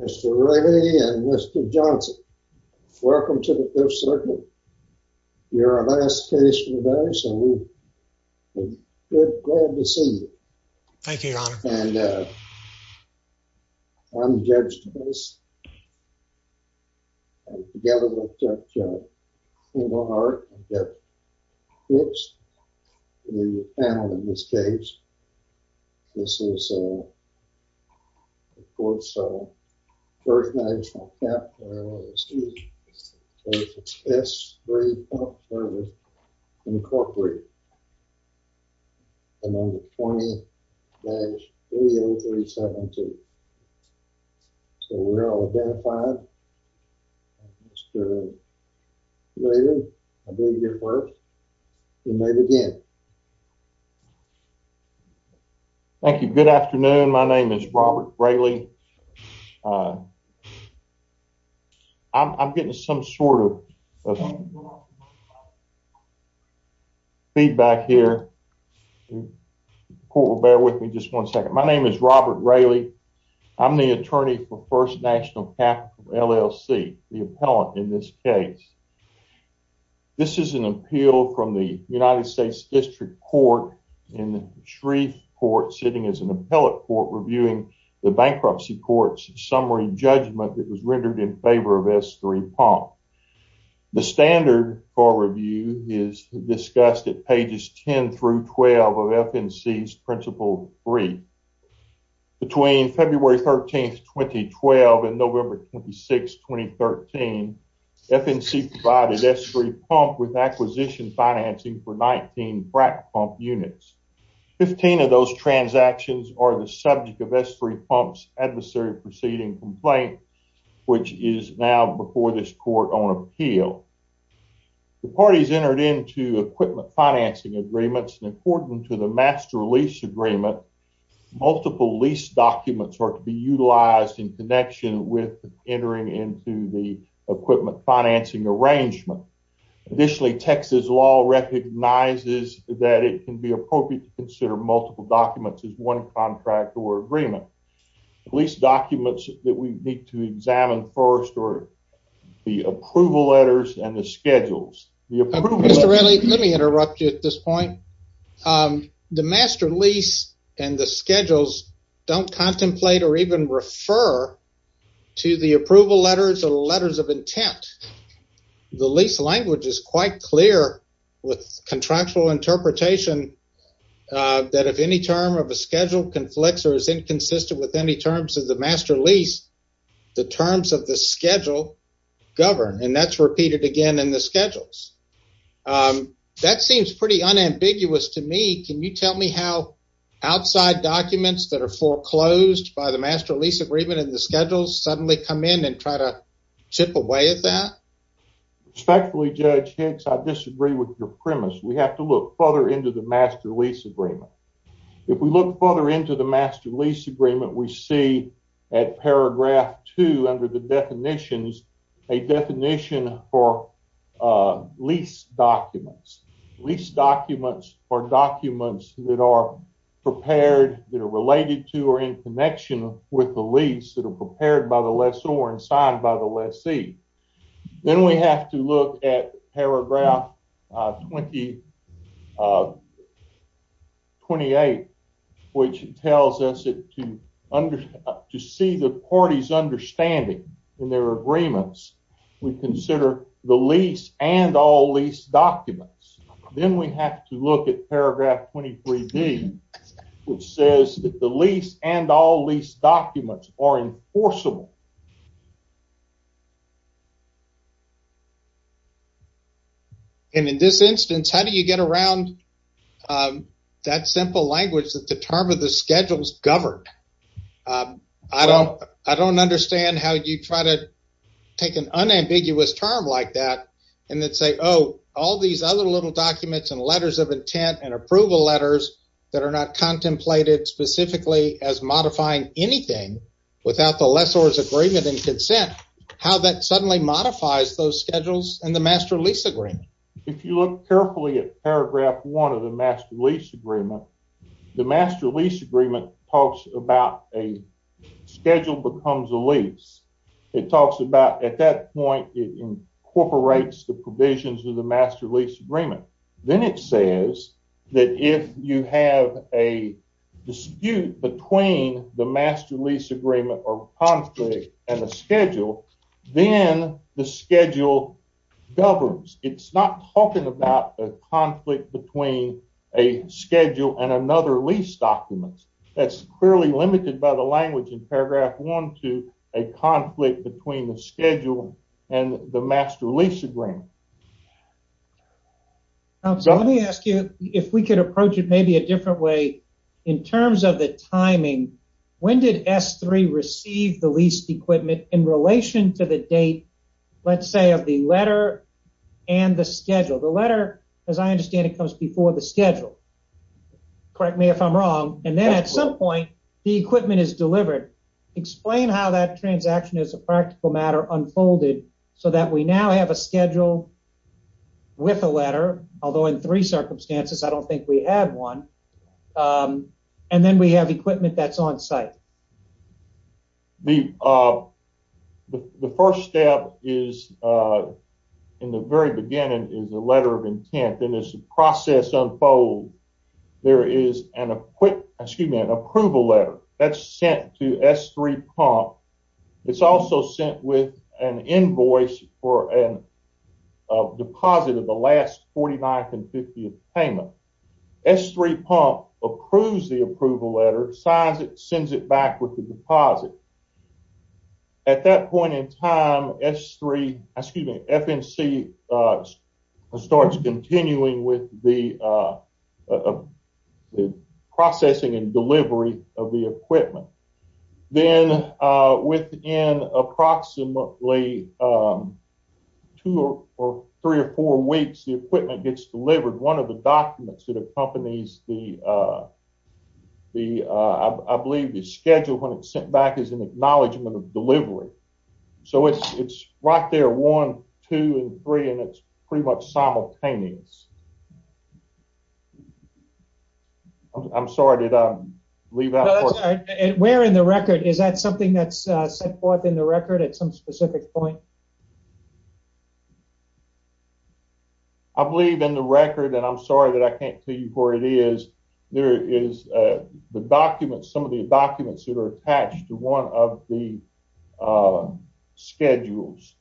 Mr. Remy and Mr. Johnson, welcome to the Fifth Circle. You're our last case for the day, so we're glad to see you. Thank you, your honor. And uh, I'm judged to this together with Judge Umar and Judge Fitch, the panel in this case. This is uh, of course, uh, first names from Captl, S-3 Pump Svc, Incorporated, and number 20-30372. So we're all identified. Mr. Remy, I believe you're first. You may begin. Thank you. Good afternoon. My name is Robert Raley. I'm getting some sort of feedback here. Court will bear with me just one second. My name is Robert Raley. I'm the attorney for First National Captl LLC, the appellant in this case. This is an appeal from the United States District Court in the Shreve Court, sitting as an appellate court, reviewing the bankruptcy court's summary judgment that was rendered in favor of S-3 Pump. The standard for review is discussed at pages 10 through 12 of FNC's Principle 3. Between February 13, 2012 and November 26, 2013, FNC provided S-3 Pump with acquisition financing for 19 frac pump units. 15 of those transactions are the subject of S-3 Pump's adversary proceeding complaint, which is now before this court on appeal. The parties entered into equipment agreements, and according to the master lease agreement, multiple lease documents are to be utilized in connection with entering into the equipment financing arrangement. Additionally, Texas law recognizes that it can be appropriate to consider multiple documents as one contract or agreement. The lease documents that we need to examine first are the approval letters and schedules. Mr. Raley, let me interrupt you at this point. The master lease and the schedules don't contemplate or even refer to the approval letters or letters of intent. The lease language is quite clear with contractual interpretation that if any term of a schedule conflicts or is inconsistent with any terms of the master lease, the terms of the schedule govern, and that's repeated again in the schedules. That seems pretty unambiguous to me. Can you tell me how outside documents that are foreclosed by the master lease agreement and the schedules suddenly come in and try to chip away at that? Respectfully, Judge Hicks, I disagree with your premise. We have to look further into the master lease agreement. If we look further into the master lease agreement, we see at paragraph two under the definitions a definition for lease documents. Lease documents are documents that are prepared, that are related to or in connection with the lease, that are prepared by the lessor and signed by the lessee. Then we have to look at paragraph 28, which tells us that to see the parties understanding in their agreements, we consider the lease and all lease documents. Then we have to look at paragraph 23d, which says that the lease and all lease documents are enforceable. In this instance, how do you get around that simple language that the term of the schedules govern? I don't understand how you try to take an unambiguous term like that and then say, oh, all these other little documents and letters of intent and approval letters that are not contemplated specifically as modifying anything without the lessor's agreement and consent. How that suddenly modifies those schedules and the master lease agreement. If you look carefully at paragraph one of the master lease agreement, the master lease agreement talks about a schedule becomes a lease. It talks about at that point, it incorporates the provisions of the master lease agreement. Then it says that if you have a schedule, then the schedule governs. It's not talking about a conflict between a schedule and another lease document. That's clearly limited by the language in paragraph one to a conflict between the schedule and the master lease agreement. Let me ask you if we could approach it maybe a in relation to the date, let's say, of the letter and the schedule. The letter, as I understand, it comes before the schedule. Correct me if I'm wrong. And then at some point, the equipment is delivered. Explain how that transaction is a practical matter unfolded so that we now have a schedule with a letter, although in three circumstances, I don't think we have one. And then we have equipment that's on site. The first step is, in the very beginning, is a letter of intent. As the process unfolds, there is an approval letter that's sent to S3 Pump. It's also sent with an invoice for a deposit of the last 49th and 50th payment. S3 Pump approves the approval letter, signs it, sends it back with the deposit. At that point in time, S3, excuse me, FNC starts continuing with the processing and delivery of the equipment. Then within approximately two or three or four weeks, the equipment gets delivered. One of the documents that accompanies the, I believe, the schedule when it's sent back is an acknowledgement of delivery. So it's right there, one, two, and three, and it's pretty much simultaneous. I'm sorry, did I leave out? Where in the record? Is that something that's set forth in the record at some specific point? I believe in the record, and I'm sorry that I can't tell you where it is. There is the documents, some of the documents that are attached to one of the schedules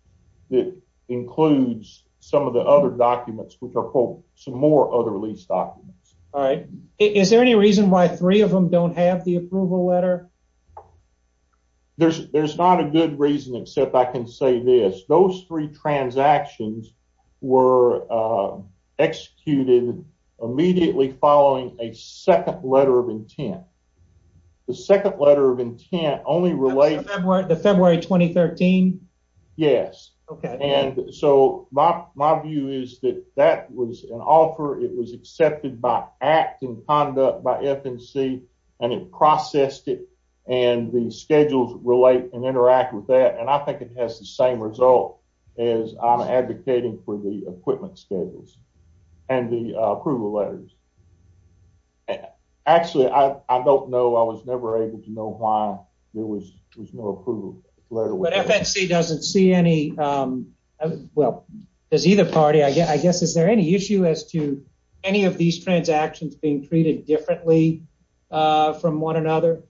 that includes some of the other documents, which are some more other lease documents. All right. Is there any reason why three of them don't have the approval letter? There's not a good reason except I can say this. Those three transactions were executed immediately following a second letter of intent. The second letter of intent only relates to February 2013? Yes. Okay. And so my view is that that was an offer. It was accepted by act and conduct by FNC, and it processed it, and the schedules relate and interact with that, and I think it has the same result as I'm advocating for the equipment schedules. And the approval letters. Actually, I don't know. I was never able to know why there was no approval letter. But FNC doesn't see any, well, does either party, I guess. Is there any issue as to any of these transactions being treated differently from one another?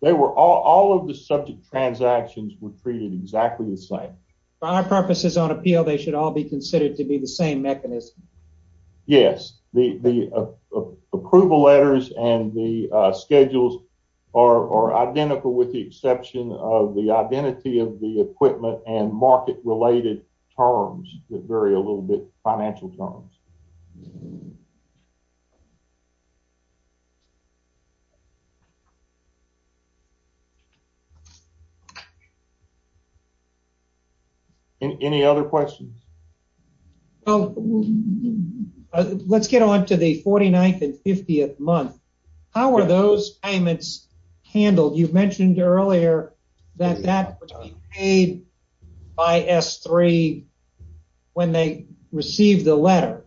All of the subject transactions were treated exactly the same. For our purposes on appeal, they should all be considered to be the same mechanism. Yes. The approval letters and the schedules are identical with the exception of the identity of the equipment and market-related terms that vary a little bit, financial terms. Any other questions? Well, let's get on to the 49th and 50th month. How were those payments handled? You mentioned earlier that that was paid by S3 when they received the letter,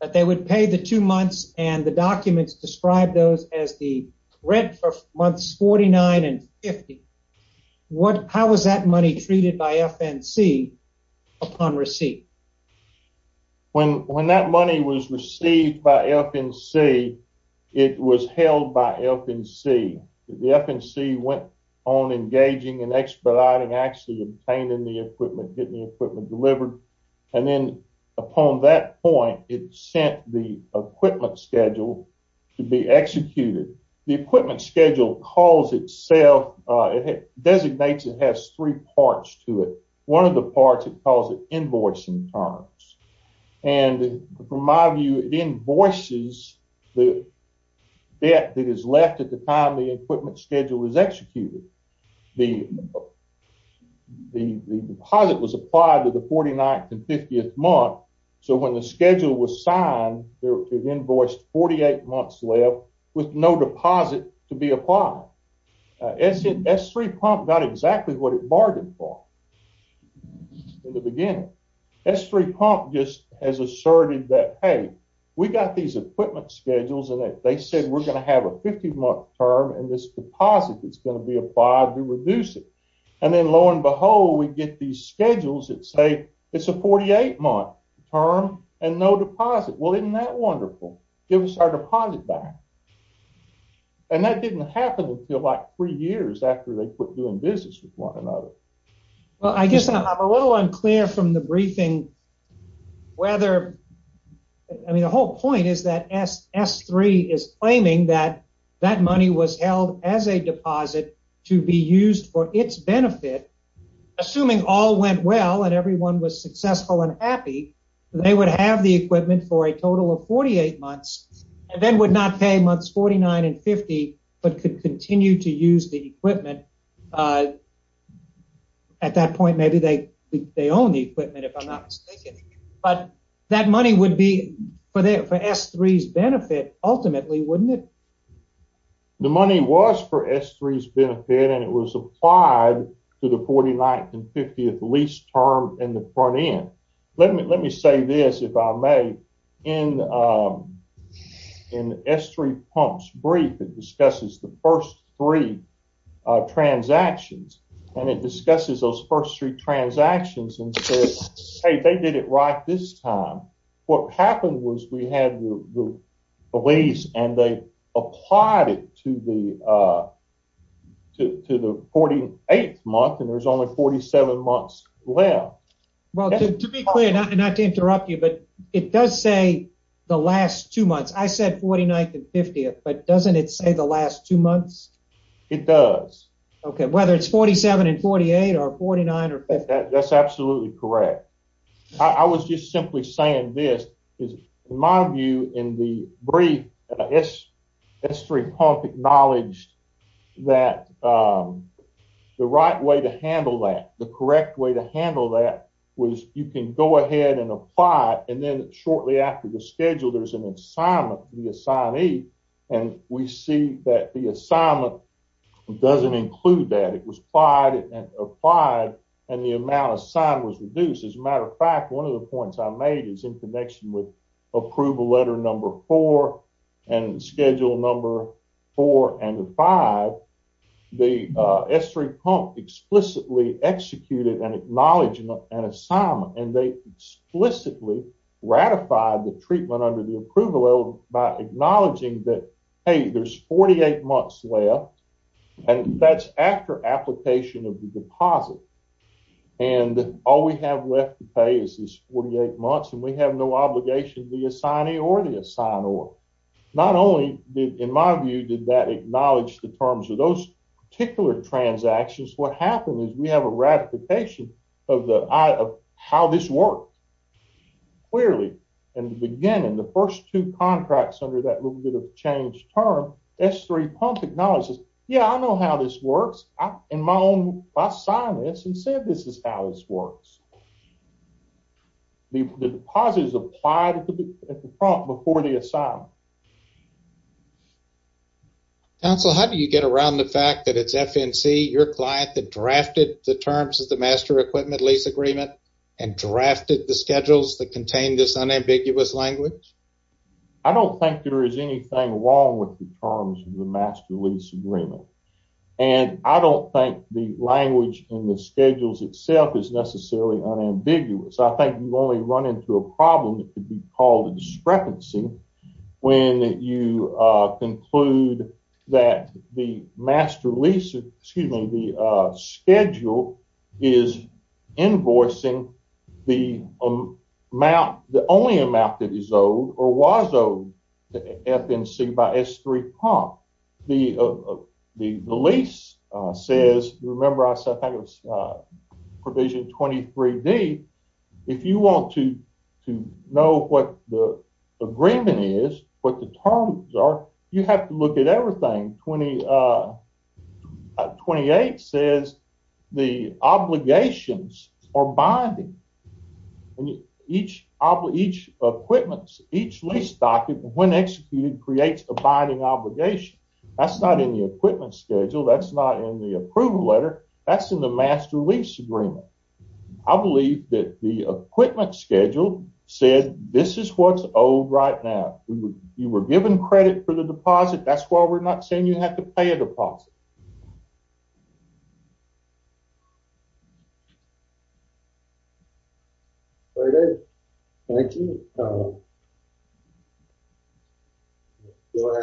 that they would pay the two months, and the documents describe those as the rent for months 49 and 50. How was that money treated by FNC upon receipt? When that money was received by FNC, it was held by FNC. The FNC went on engaging and expediting, actually obtaining the equipment, getting the equipment delivered. And then upon that point, it sent the equipment schedule to be executed. The equipment schedule calls itself, it designates, it has three parts to it. One of the parts, it calls it invoicing terms. And from my view, it invoices the debt that is left at the time the equipment schedule is executed. The deposit was applied to the 49th and 50th month, so when the schedule was signed, it invoiced 48 months left with no in the beginning. S3 pump just has asserted that, hey, we got these equipment schedules and they said we're going to have a 50 month term and this deposit is going to be applied to reduce it. And then lo and behold, we get these schedules that say it's a 48 month term and no deposit. Well, isn't that wonderful? Give us our deposit back. And that didn't happen until like three months ago. Well, I guess I'm a little unclear from the briefing whether, I mean, the whole point is that S3 is claiming that that money was held as a deposit to be used for its benefit. Assuming all went well and everyone was successful and happy, they would have the equipment for a total of 48 months and then would not pay months 49 and 50, but could continue to use the equipment. At that point, maybe they own the equipment, if I'm not mistaken, but that money would be for S3's benefit ultimately, wouldn't it? The money was for S3's benefit and it was applied to the 49th and 50th lease term in the front end. Let me say this, if I may, in S3 pump's brief, it discusses the first three transactions and it discusses those first three transactions and says, hey, they did it right this time. What happened was we had the lease and they applied it to the 48th month and there's only 47 months left. Well, to be clear, not to interrupt you, but it does say the last two months. I said 49th and 50th, but doesn't it say the last two months? It does. Okay. Whether it's 47 and 48 or 49 or 50. That's absolutely correct. I was just simply saying this is my view in the brief S3 pump acknowledged that the right way to handle that, the correct way to handle that was you can go and we see that the assignment doesn't include that. It was applied and the amount of sign was reduced. As a matter of fact, one of the points I made is in connection with approval letter number four and schedule number four and five, the S3 pump explicitly executed and acknowledged an assignment and they explicitly ratified the treatment under the approval by acknowledging that, hey, there's 48 months left and that's after application of the deposit. All we have left to pay is this 48 months and we have no obligation to the assignee or the assignor. Not only in my view did that acknowledge the terms of those particular transactions, what happened is we have a ratification of how this worked. Clearly in the beginning, the first two contracts under that little bit of change term, S3 pump acknowledges, yeah, I know how this works. I signed this and said this is how this works. The deposit is applied at the front before the assignment. Counsel, how do you get around the fact that it's FNC, your client, that drafted the terms of the master equipment lease agreement and drafted the schedules that contain this unambiguous language? I don't think there is anything wrong with the terms of the master lease agreement. I don't think the language in the schedules itself is necessarily unambiguous. I think you only run into a problem that could be called a discrepancy when you have a schedule when you conclude that the master lease, excuse me, the schedule is invoicing the amount, the only amount that is owed or was owed to FNC by S3 pump. The lease says, remember I said provision 23D. If you want to know what the agreement is, what the terms are, you have to look at everything. 28 says the obligations are binding. Each equipment, each lease document when executed creates a binding obligation. That's not in the equipment schedule. That's not in the approval letter. That's in the master lease agreement. I believe that the equipment schedule said this is what's owed right now. You were given credit for the deposit. That's why we're not saying you have to pay a deposit. All right. Thank you. Good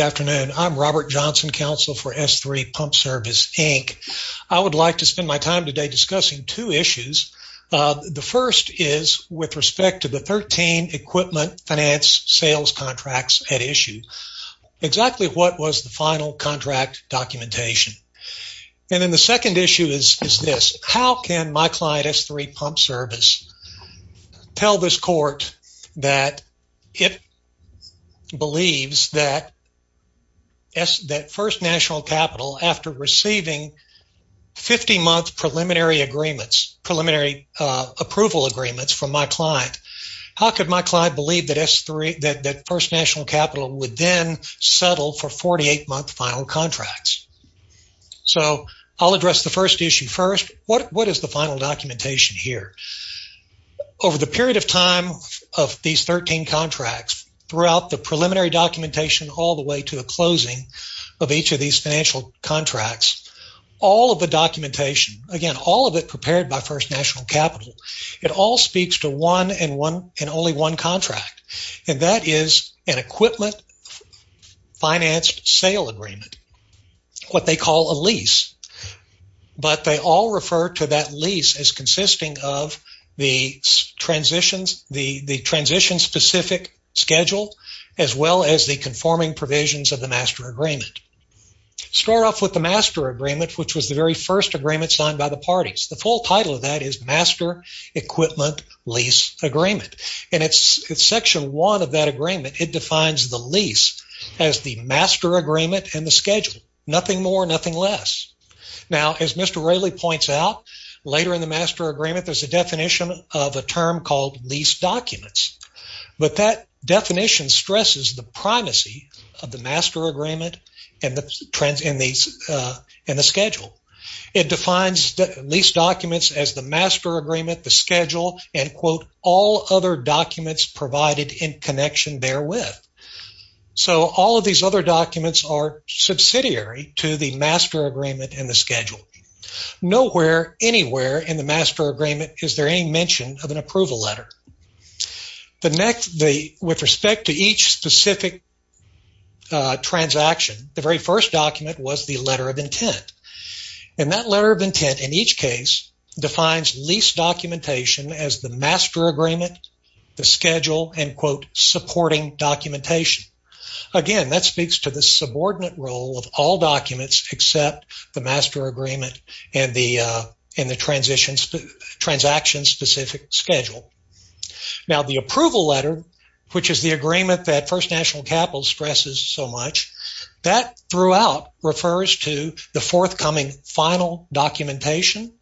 afternoon. I'm Robert Johnson, counsel for S3 Pump Service Inc. I would like to spend my time today discussing two issues. The first is with respect to the 13 equipment finance sales contracts at issue, exactly what was the final contract documentation. And then the second issue is this. How can my client S3 Pump Service tell this court that it believes that first national capital after receiving 50-month preliminary agreements, preliminary approval agreements from my client, how could my client believe that first national capital would then settle for 48-month final contracts? So I'll address the first issue first. What is the final documentation here? Over the period of time of these 13 contracts throughout the preliminary documentation all the way to the closing of each of these financial contracts, all of the documentation, again, all of it prepared by first national capital, it all speaks to one and only one contract, and that is an equipment finance sale agreement, what they call a lease. But they all refer to that lease as consisting of the transition-specific schedule as well as the conforming provisions of the master agreement. Start off with the master agreement, which was the first agreement signed by the parties. The full title of that is Master Equipment Lease Agreement, and it's section 1 of that agreement. It defines the lease as the master agreement and the schedule, nothing more, nothing less. Now, as Mr. Raley points out, later in the master agreement, there's a definition of a term called lease documents, but that definition stresses the It defines lease documents as the master agreement, the schedule, and, quote, all other documents provided in connection therewith. So all of these other documents are subsidiary to the master agreement and the schedule. Nowhere anywhere in the master agreement is there any mention of an approval letter. The next, with respect to each specific transaction, the very first document was the letter of intent, and that letter of intent, in each case, defines lease documentation as the master agreement, the schedule, and, quote, supporting documentation. Again, that speaks to the subordinate role of all documents except the master agreement and the transaction-specific schedule. Now, the approval letter, which is the agreement that First National Capital stresses so much, that throughout refers to the forthcoming final documentation,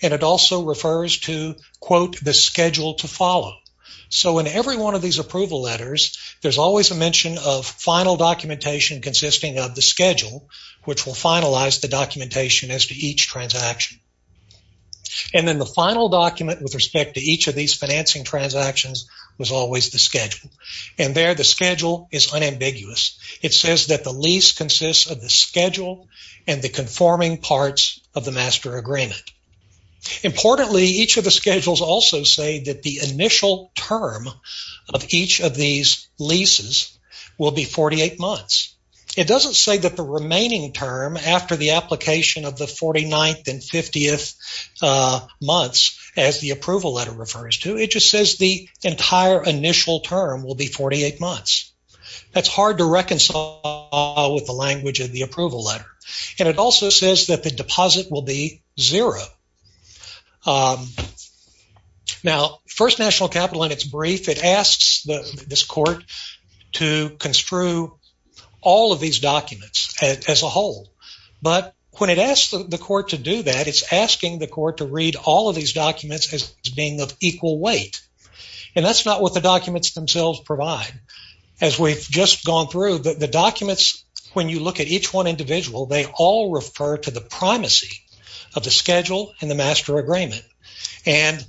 and it also refers to, quote, the schedule to follow. So in every one of these approval letters, there's always a mention of final documentation consisting of the schedule, which will finalize the documentation as to each transaction. And then the final document with respect to each of these financing transactions was always the schedule, and there the schedule is unambiguous. It says that the lease consists of the schedule and the conforming parts of the master agreement. Importantly, each of the schedules also say that the initial term of each of these leases will be 48 months. It doesn't say that the remaining term after the application of the 49th and 50th months, as the approval letter refers to, it just says the entire initial term will be 48 months. That's hard to reconcile with the language of the approval letter, and it also says that the deposit will be zero. Now, First National Capital, in its brief, it asks this court to construe all of these documents as a whole, but when it asks the court to do that, it's asking the court to read all of these documents in equal weight, and that's not what the documents themselves provide. As we've just gone through, the documents, when you look at each one individual, they all refer to the primacy of the schedule and the master agreement, and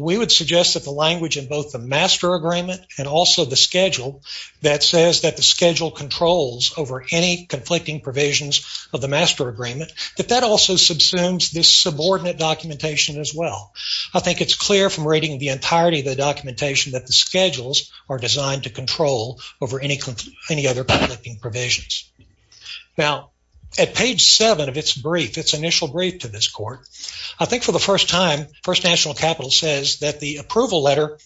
we would suggest that the language in both the master agreement and also the schedule that says that the schedule controls over any conflicting provisions of the master agreement, that that also subsumes this subordinate documentation as well. I think it's clear from reading the entirety of the documentation that the schedules are designed to control over any other conflicting provisions. Now, at page seven of its brief, its initial brief to this court, I think for the first time, First National Capital says that the approval letter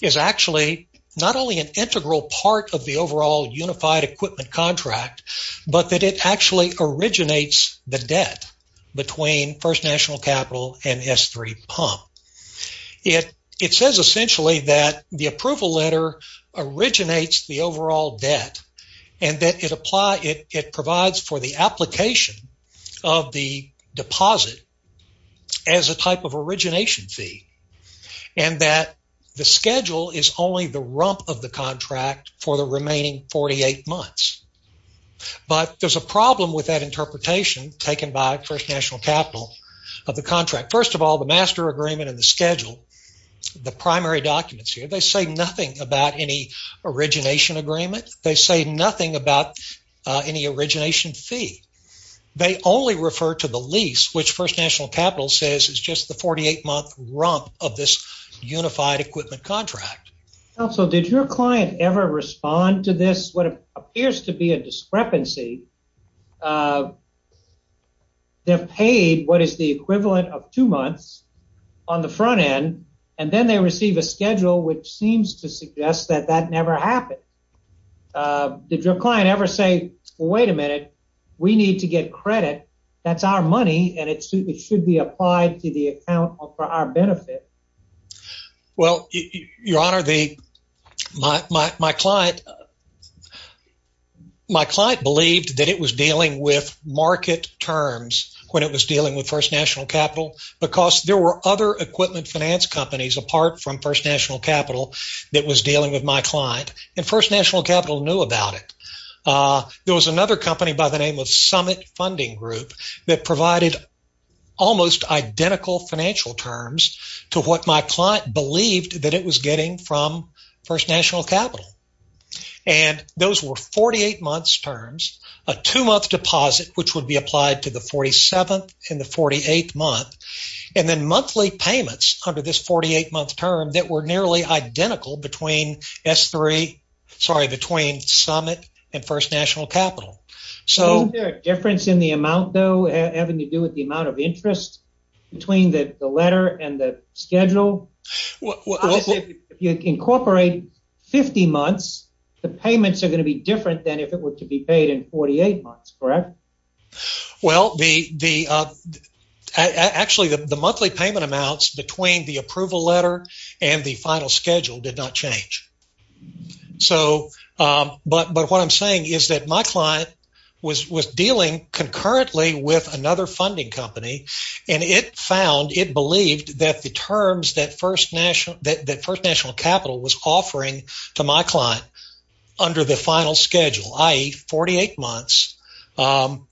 is actually not only an integral part of the overall unified equipment contract, but that it actually originates the debt between First National Capital and S3 Pump. It says essentially that the approval letter originates the overall debt, and that it provides for the application of the deposit as a type of origination fee, and that the schedule is only the rump of the contract for the remaining 48 months. But there's a problem with that interpretation taken by First National Capital of the contract. First of all, the master agreement and the schedule, the primary documents here, they say nothing about any origination agreement. They say nothing about any origination fee. They only refer to the lease, which First National Contract. Counsel, did your client ever respond to this, what appears to be a discrepancy? They're paid what is the equivalent of two months on the front end, and then they receive a schedule which seems to suggest that that never happened. Did your client ever say, wait a minute, we need to get credit. That's our money, and it should be applied to the account for our benefit? Well, your honor, my client believed that it was dealing with market terms when it was dealing with First National Capital, because there were other equipment finance companies apart from First National Capital that was dealing with my client, and First National Capital knew about it. There was another company by the name of Summit Funding Group that provided almost identical financial terms to what my client believed that it was getting from First National Capital, and those were 48 months terms, a two-month deposit, which would be applied to the 47th and the 48th month, and then monthly payments under this 48-month term that were nearly identical between Summit and First National Capital. Isn't there a difference in the amount though having to do with the amount of interest between the letter and the schedule? If you incorporate 50 months, the payments are going to be different than if it were to be paid in 48 months, correct? Well, actually, the monthly payment amounts between the approval letter and the final schedule did not change, but what I'm saying is that my client was dealing concurrently with another funding company, and it found, it believed that the terms that First National Capital was offering to my client under the final schedule, i.e., 48 months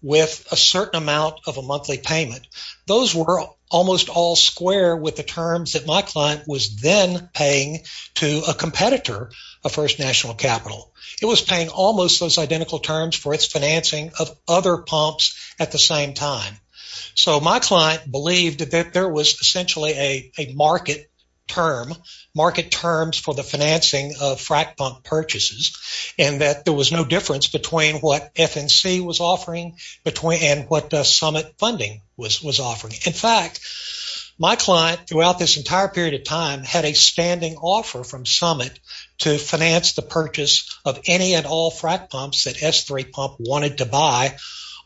with a certain amount of a monthly payment, those were almost all square with the terms that my client was then paying to a competitor of First National Capital. It was paying almost those at the same time. So, my client believed that there was essentially a market term, market terms for the financing of frac pump purchases, and that there was no difference between what FNC was offering and what Summit funding was offering. In fact, my client throughout this entire period of time had a standing offer from Summit to finance the purchase of any and all frac pumps that S3 wanted to buy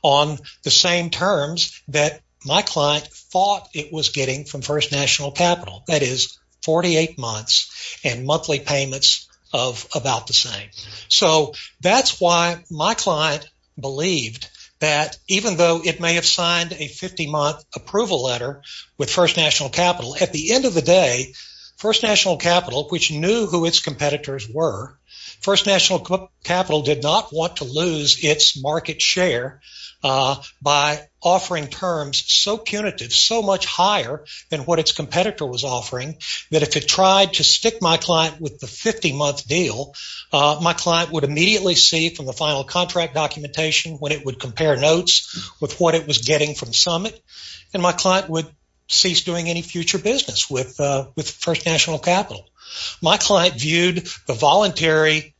on the same terms that my client thought it was getting from First National Capital, i.e., 48 months and monthly payments of about the same. So, that's why my client believed that even though it may have signed a 50-month approval letter with First National Capital, at the end of the day, First National Capital, which knew who its competitors were, First National Capital did not want to lose its market share by offering terms so punitive, so much higher than what its competitor was offering, that if it tried to stick my client with the 50-month deal, my client would immediately see from the final contract documentation when it would compare notes with what it was getting from Summit, and my client would cease doing any future business with First National Capital. My client viewed the voluntary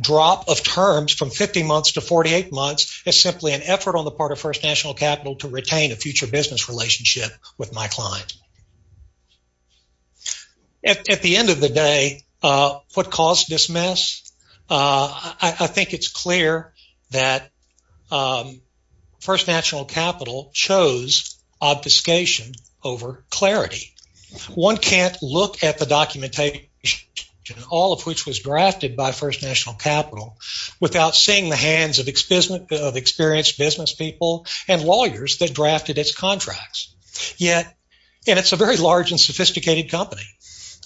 drop of terms from 50 months to 48 months as simply an effort on the part of First National Capital to retain a future business relationship with my client. At the end of the day, what caused this mess? I think it's clear that First National Capital chose obfuscation over clarity. One can't look at the documentation, all of which was drafted by First National Capital, without seeing the hands of experienced business people and lawyers that drafted its contracts. Yet, and it's a very large and sophisticated company,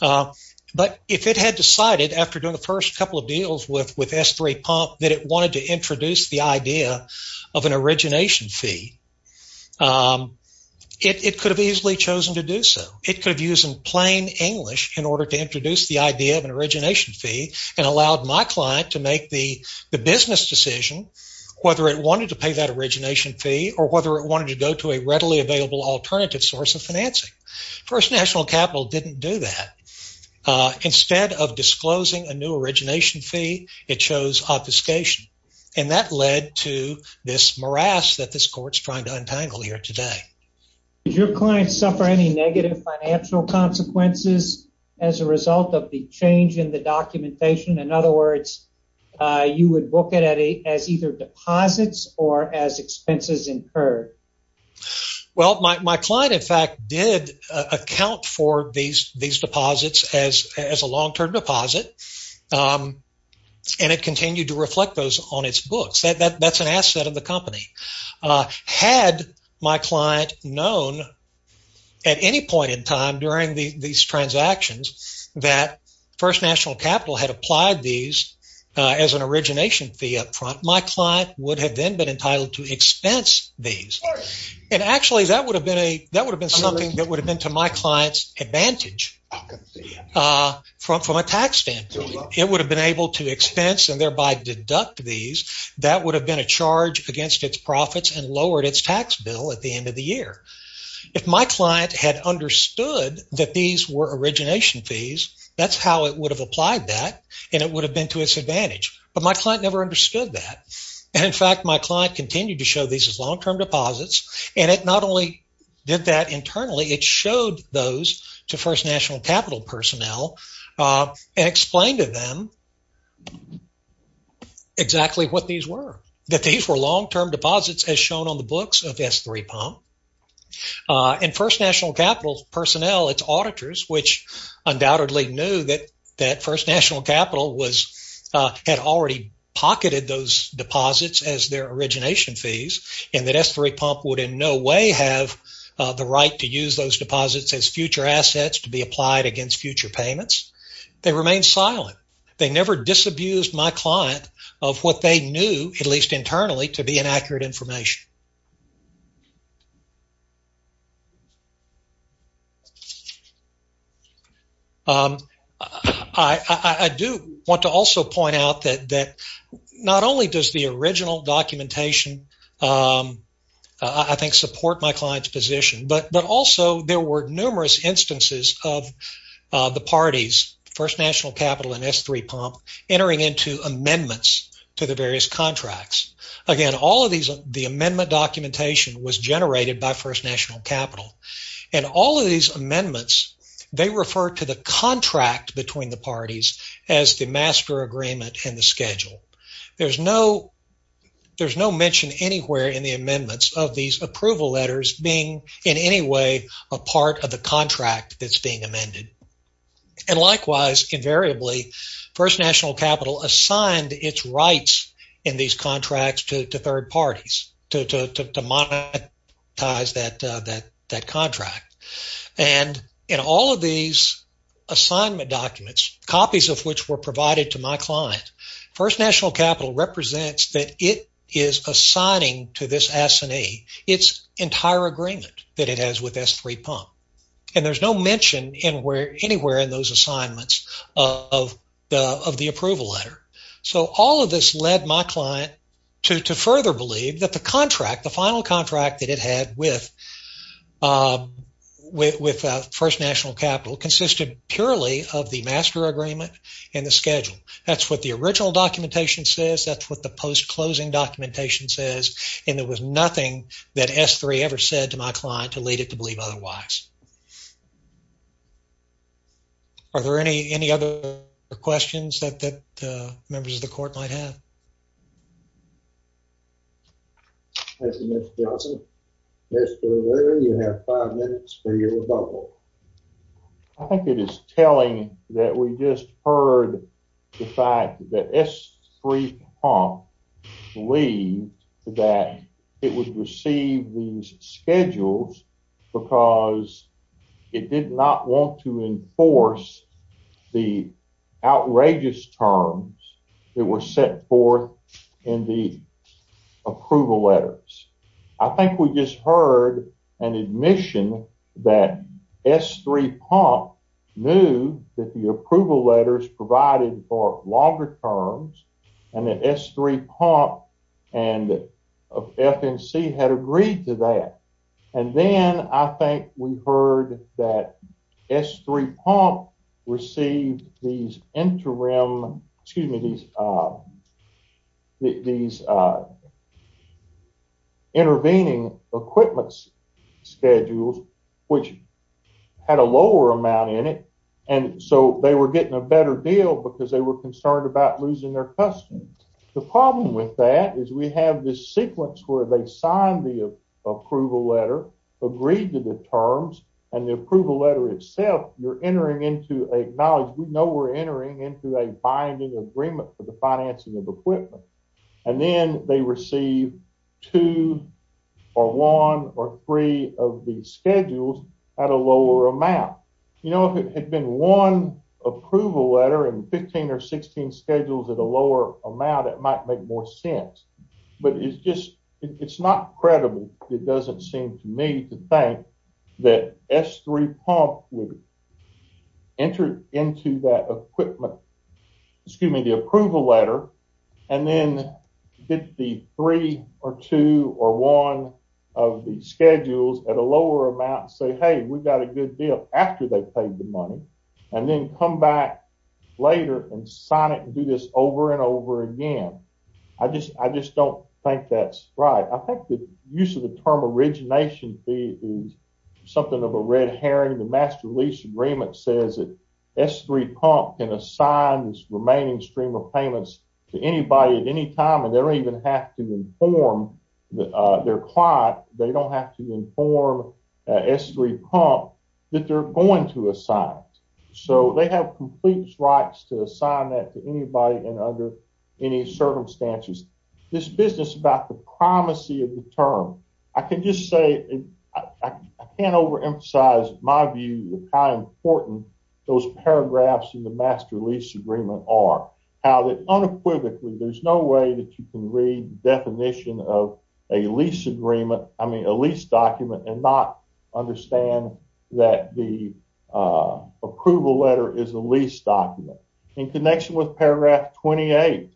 but if it had decided after doing the first couple of deals with S3 Pump that it wanted to introduce the idea of an origination fee, it could have easily chosen to do so. It could have used plain English in order to introduce the idea of an origination fee and allowed my client to make the business decision whether it wanted to pay that origination fee or whether it wanted to go to a readily available alternative source of financing. First National Capital didn't do that. Instead of disclosing a new origination fee, it chose obfuscation, and that led to this morass that this court's trying to untangle here today. Did your client suffer any negative financial consequences as a result of the change in the documentation? In other words, you would book it as either deposits or as expenses incurred? Well, my client, in fact, did account for these deposits as a long-term deposit, and it continued to reflect those on its books. That's an asset of the company. Had my client known at any point in time during these transactions that First National Capital had applied these as an origination fee up front, my client would have then been entitled to expense these. And actually, that would have been to my client's advantage from a tax standpoint. It would have been able to expense and thereby deduct these. That would have been a charge against its profits and lowered its tax bill at the end of the year. If my client had understood that these were origination fees, that's how it would have applied that, and it would have been to its advantage. But my client never understood that. In fact, my client continued to show these as long-term deposits, and it not did that internally. It showed those to First National Capital personnel and explained to them exactly what these were, that these were long-term deposits as shown on the books of S3 Pump. And First National Capital personnel, its auditors, which undoubtedly knew that First National Capital had already pocketed those deposits as their origination fees and that the right to use those deposits as future assets to be applied against future payments, they remained silent. They never disabused my client of what they knew, at least internally, to be inaccurate information. I do want to also point out that not only does the original but also there were numerous instances of the parties, First National Capital and S3 Pump, entering into amendments to the various contracts. Again, all of these, the amendment documentation was generated by First National Capital. And all of these amendments, they refer to the contract between the parties as the master agreement and the schedule. There's no mention anywhere in the amendments of these approval letters being in any way a part of the contract that's being amended. And likewise, invariably, First National Capital assigned its rights in these contracts to third parties to monetize that contract. And in all of these assignment documents, copies of which were provided to my client, First National Capital represents that it is assigning to this S&E its entire agreement that it has with S3 Pump. And there's no mention anywhere in those assignments of the approval letter. So, all of this led my client to further believe that the contract, the final contract that it had with First National Capital consisted purely of the master agreement and the schedule. That's what the original documentation says. That's what the post-closing documentation says. And there was nothing that S3 ever said to my client to lead it to believe otherwise. Are there any other questions that members of the court might have? Thank you, Mr. Johnson. Mr. O'Leary, you have five minutes for your rebuttal. I think it is telling that we just heard the fact that S3 Pump believed that it would receive these schedules because it did not want to enforce the outrageous terms that were set forth in the approval letters. I think we just heard an admission that S3 Pump knew that the approval letters provided for longer terms and that S3 Pump and FNC had agreed to that. And then I think we heard that S3 Pump received these interim, excuse me, these intervening equipment schedules which had a lower amount in it and so they were getting a better deal because they were concerned about losing their customers. The problem with that is we have this sequence where they signed the approval letter, agreed to the terms, and the approval letter itself, you're entering into a knowledge. We know we're entering into a binding agreement for the financing of equipment. And then they receive two or one or three of these schedules at a lower amount. You know, if it had been one approval letter and 15 or 16 schedules at a lower amount, it might make more sense. But it's just, it's not credible. It doesn't seem to me to think that S3 Pump would enter into that equipment, excuse me, the approval letter and then get the three or two or one of the schedules at a lower amount and say, hey, we've got a good deal after they paid the money and then come back later and sign it and do this over and over again. I just, I just don't think that's right. I think the use of the term origination fee is something of a red herring. The mass release agreement says that S3 Pump can assign this remaining stream of payments to anybody at any time and they don't even have to inform, they're quiet, they don't have to inform S3 Pump that they're going to assign. So they have complete rights to assign that to anybody and under any circumstances. This business about the primacy of the term, I can just say, I can't overemphasize my view of how important those paragraphs in the master lease agreement are. How unequivocally there's no way that you can read the definition of a lease agreement, I mean, a lease document and not understand that the approval letter is a lease document. In connection with paragraph 28,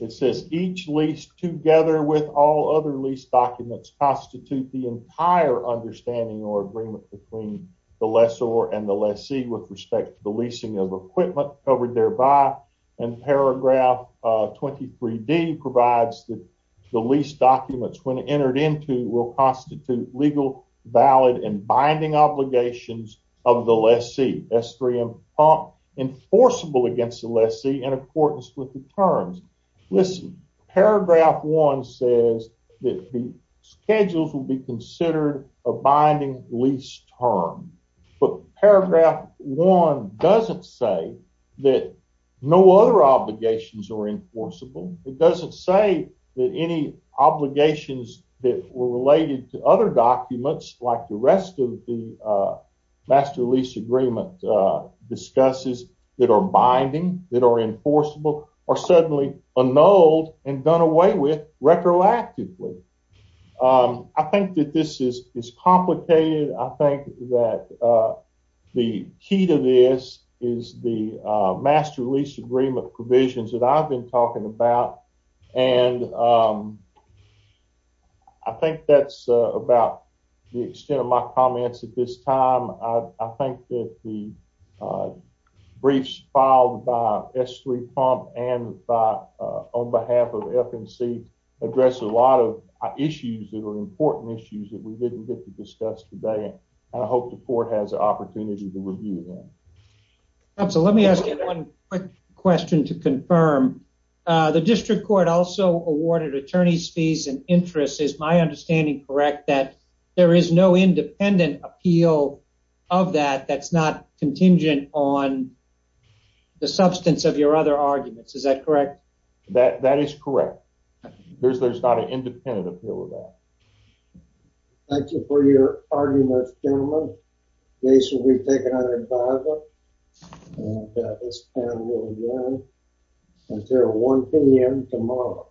it says each lease together with all other lease documents constitute the entire understanding or agreement between the lessor and the lessee with respect to the leasing of equipment covered thereby and paragraph 23d provides that the lease documents when entered into will constitute legal valid and binding obligations of the lessee. S3 Pump enforceable against the lessee in accordance with the terms. Listen, paragraph 1 says that the schedules will be considered a binding lease term but paragraph 1 doesn't say that no other obligations are enforceable. It doesn't say that any obligations that were related to other documents like the rest of the master lease agreement discusses that are binding, that are enforceable, are suddenly annulled and done away with retroactively. I think that this is complicated. I think that the key to this is the master lease agreement provisions that I've been talking about and I think that's about the extent of my comments at this time. I think that the briefs filed by S3 Pump and on behalf of FNC address a lot of issues that are important issues that we didn't get to discuss today. I hope the court has an opportunity to review them. Absolutely. Let me ask you one quick question to confirm. The district court also awarded attorney's fees and interest. Is my understanding correct that there is no independent appeal of that that's not contingent on the substance of your other arguments? Is that correct? That is correct. There's not an independent appeal of that. Thank you for your arguments, gentlemen. Case will be taken under advisory. Until 1 p.m. tomorrow.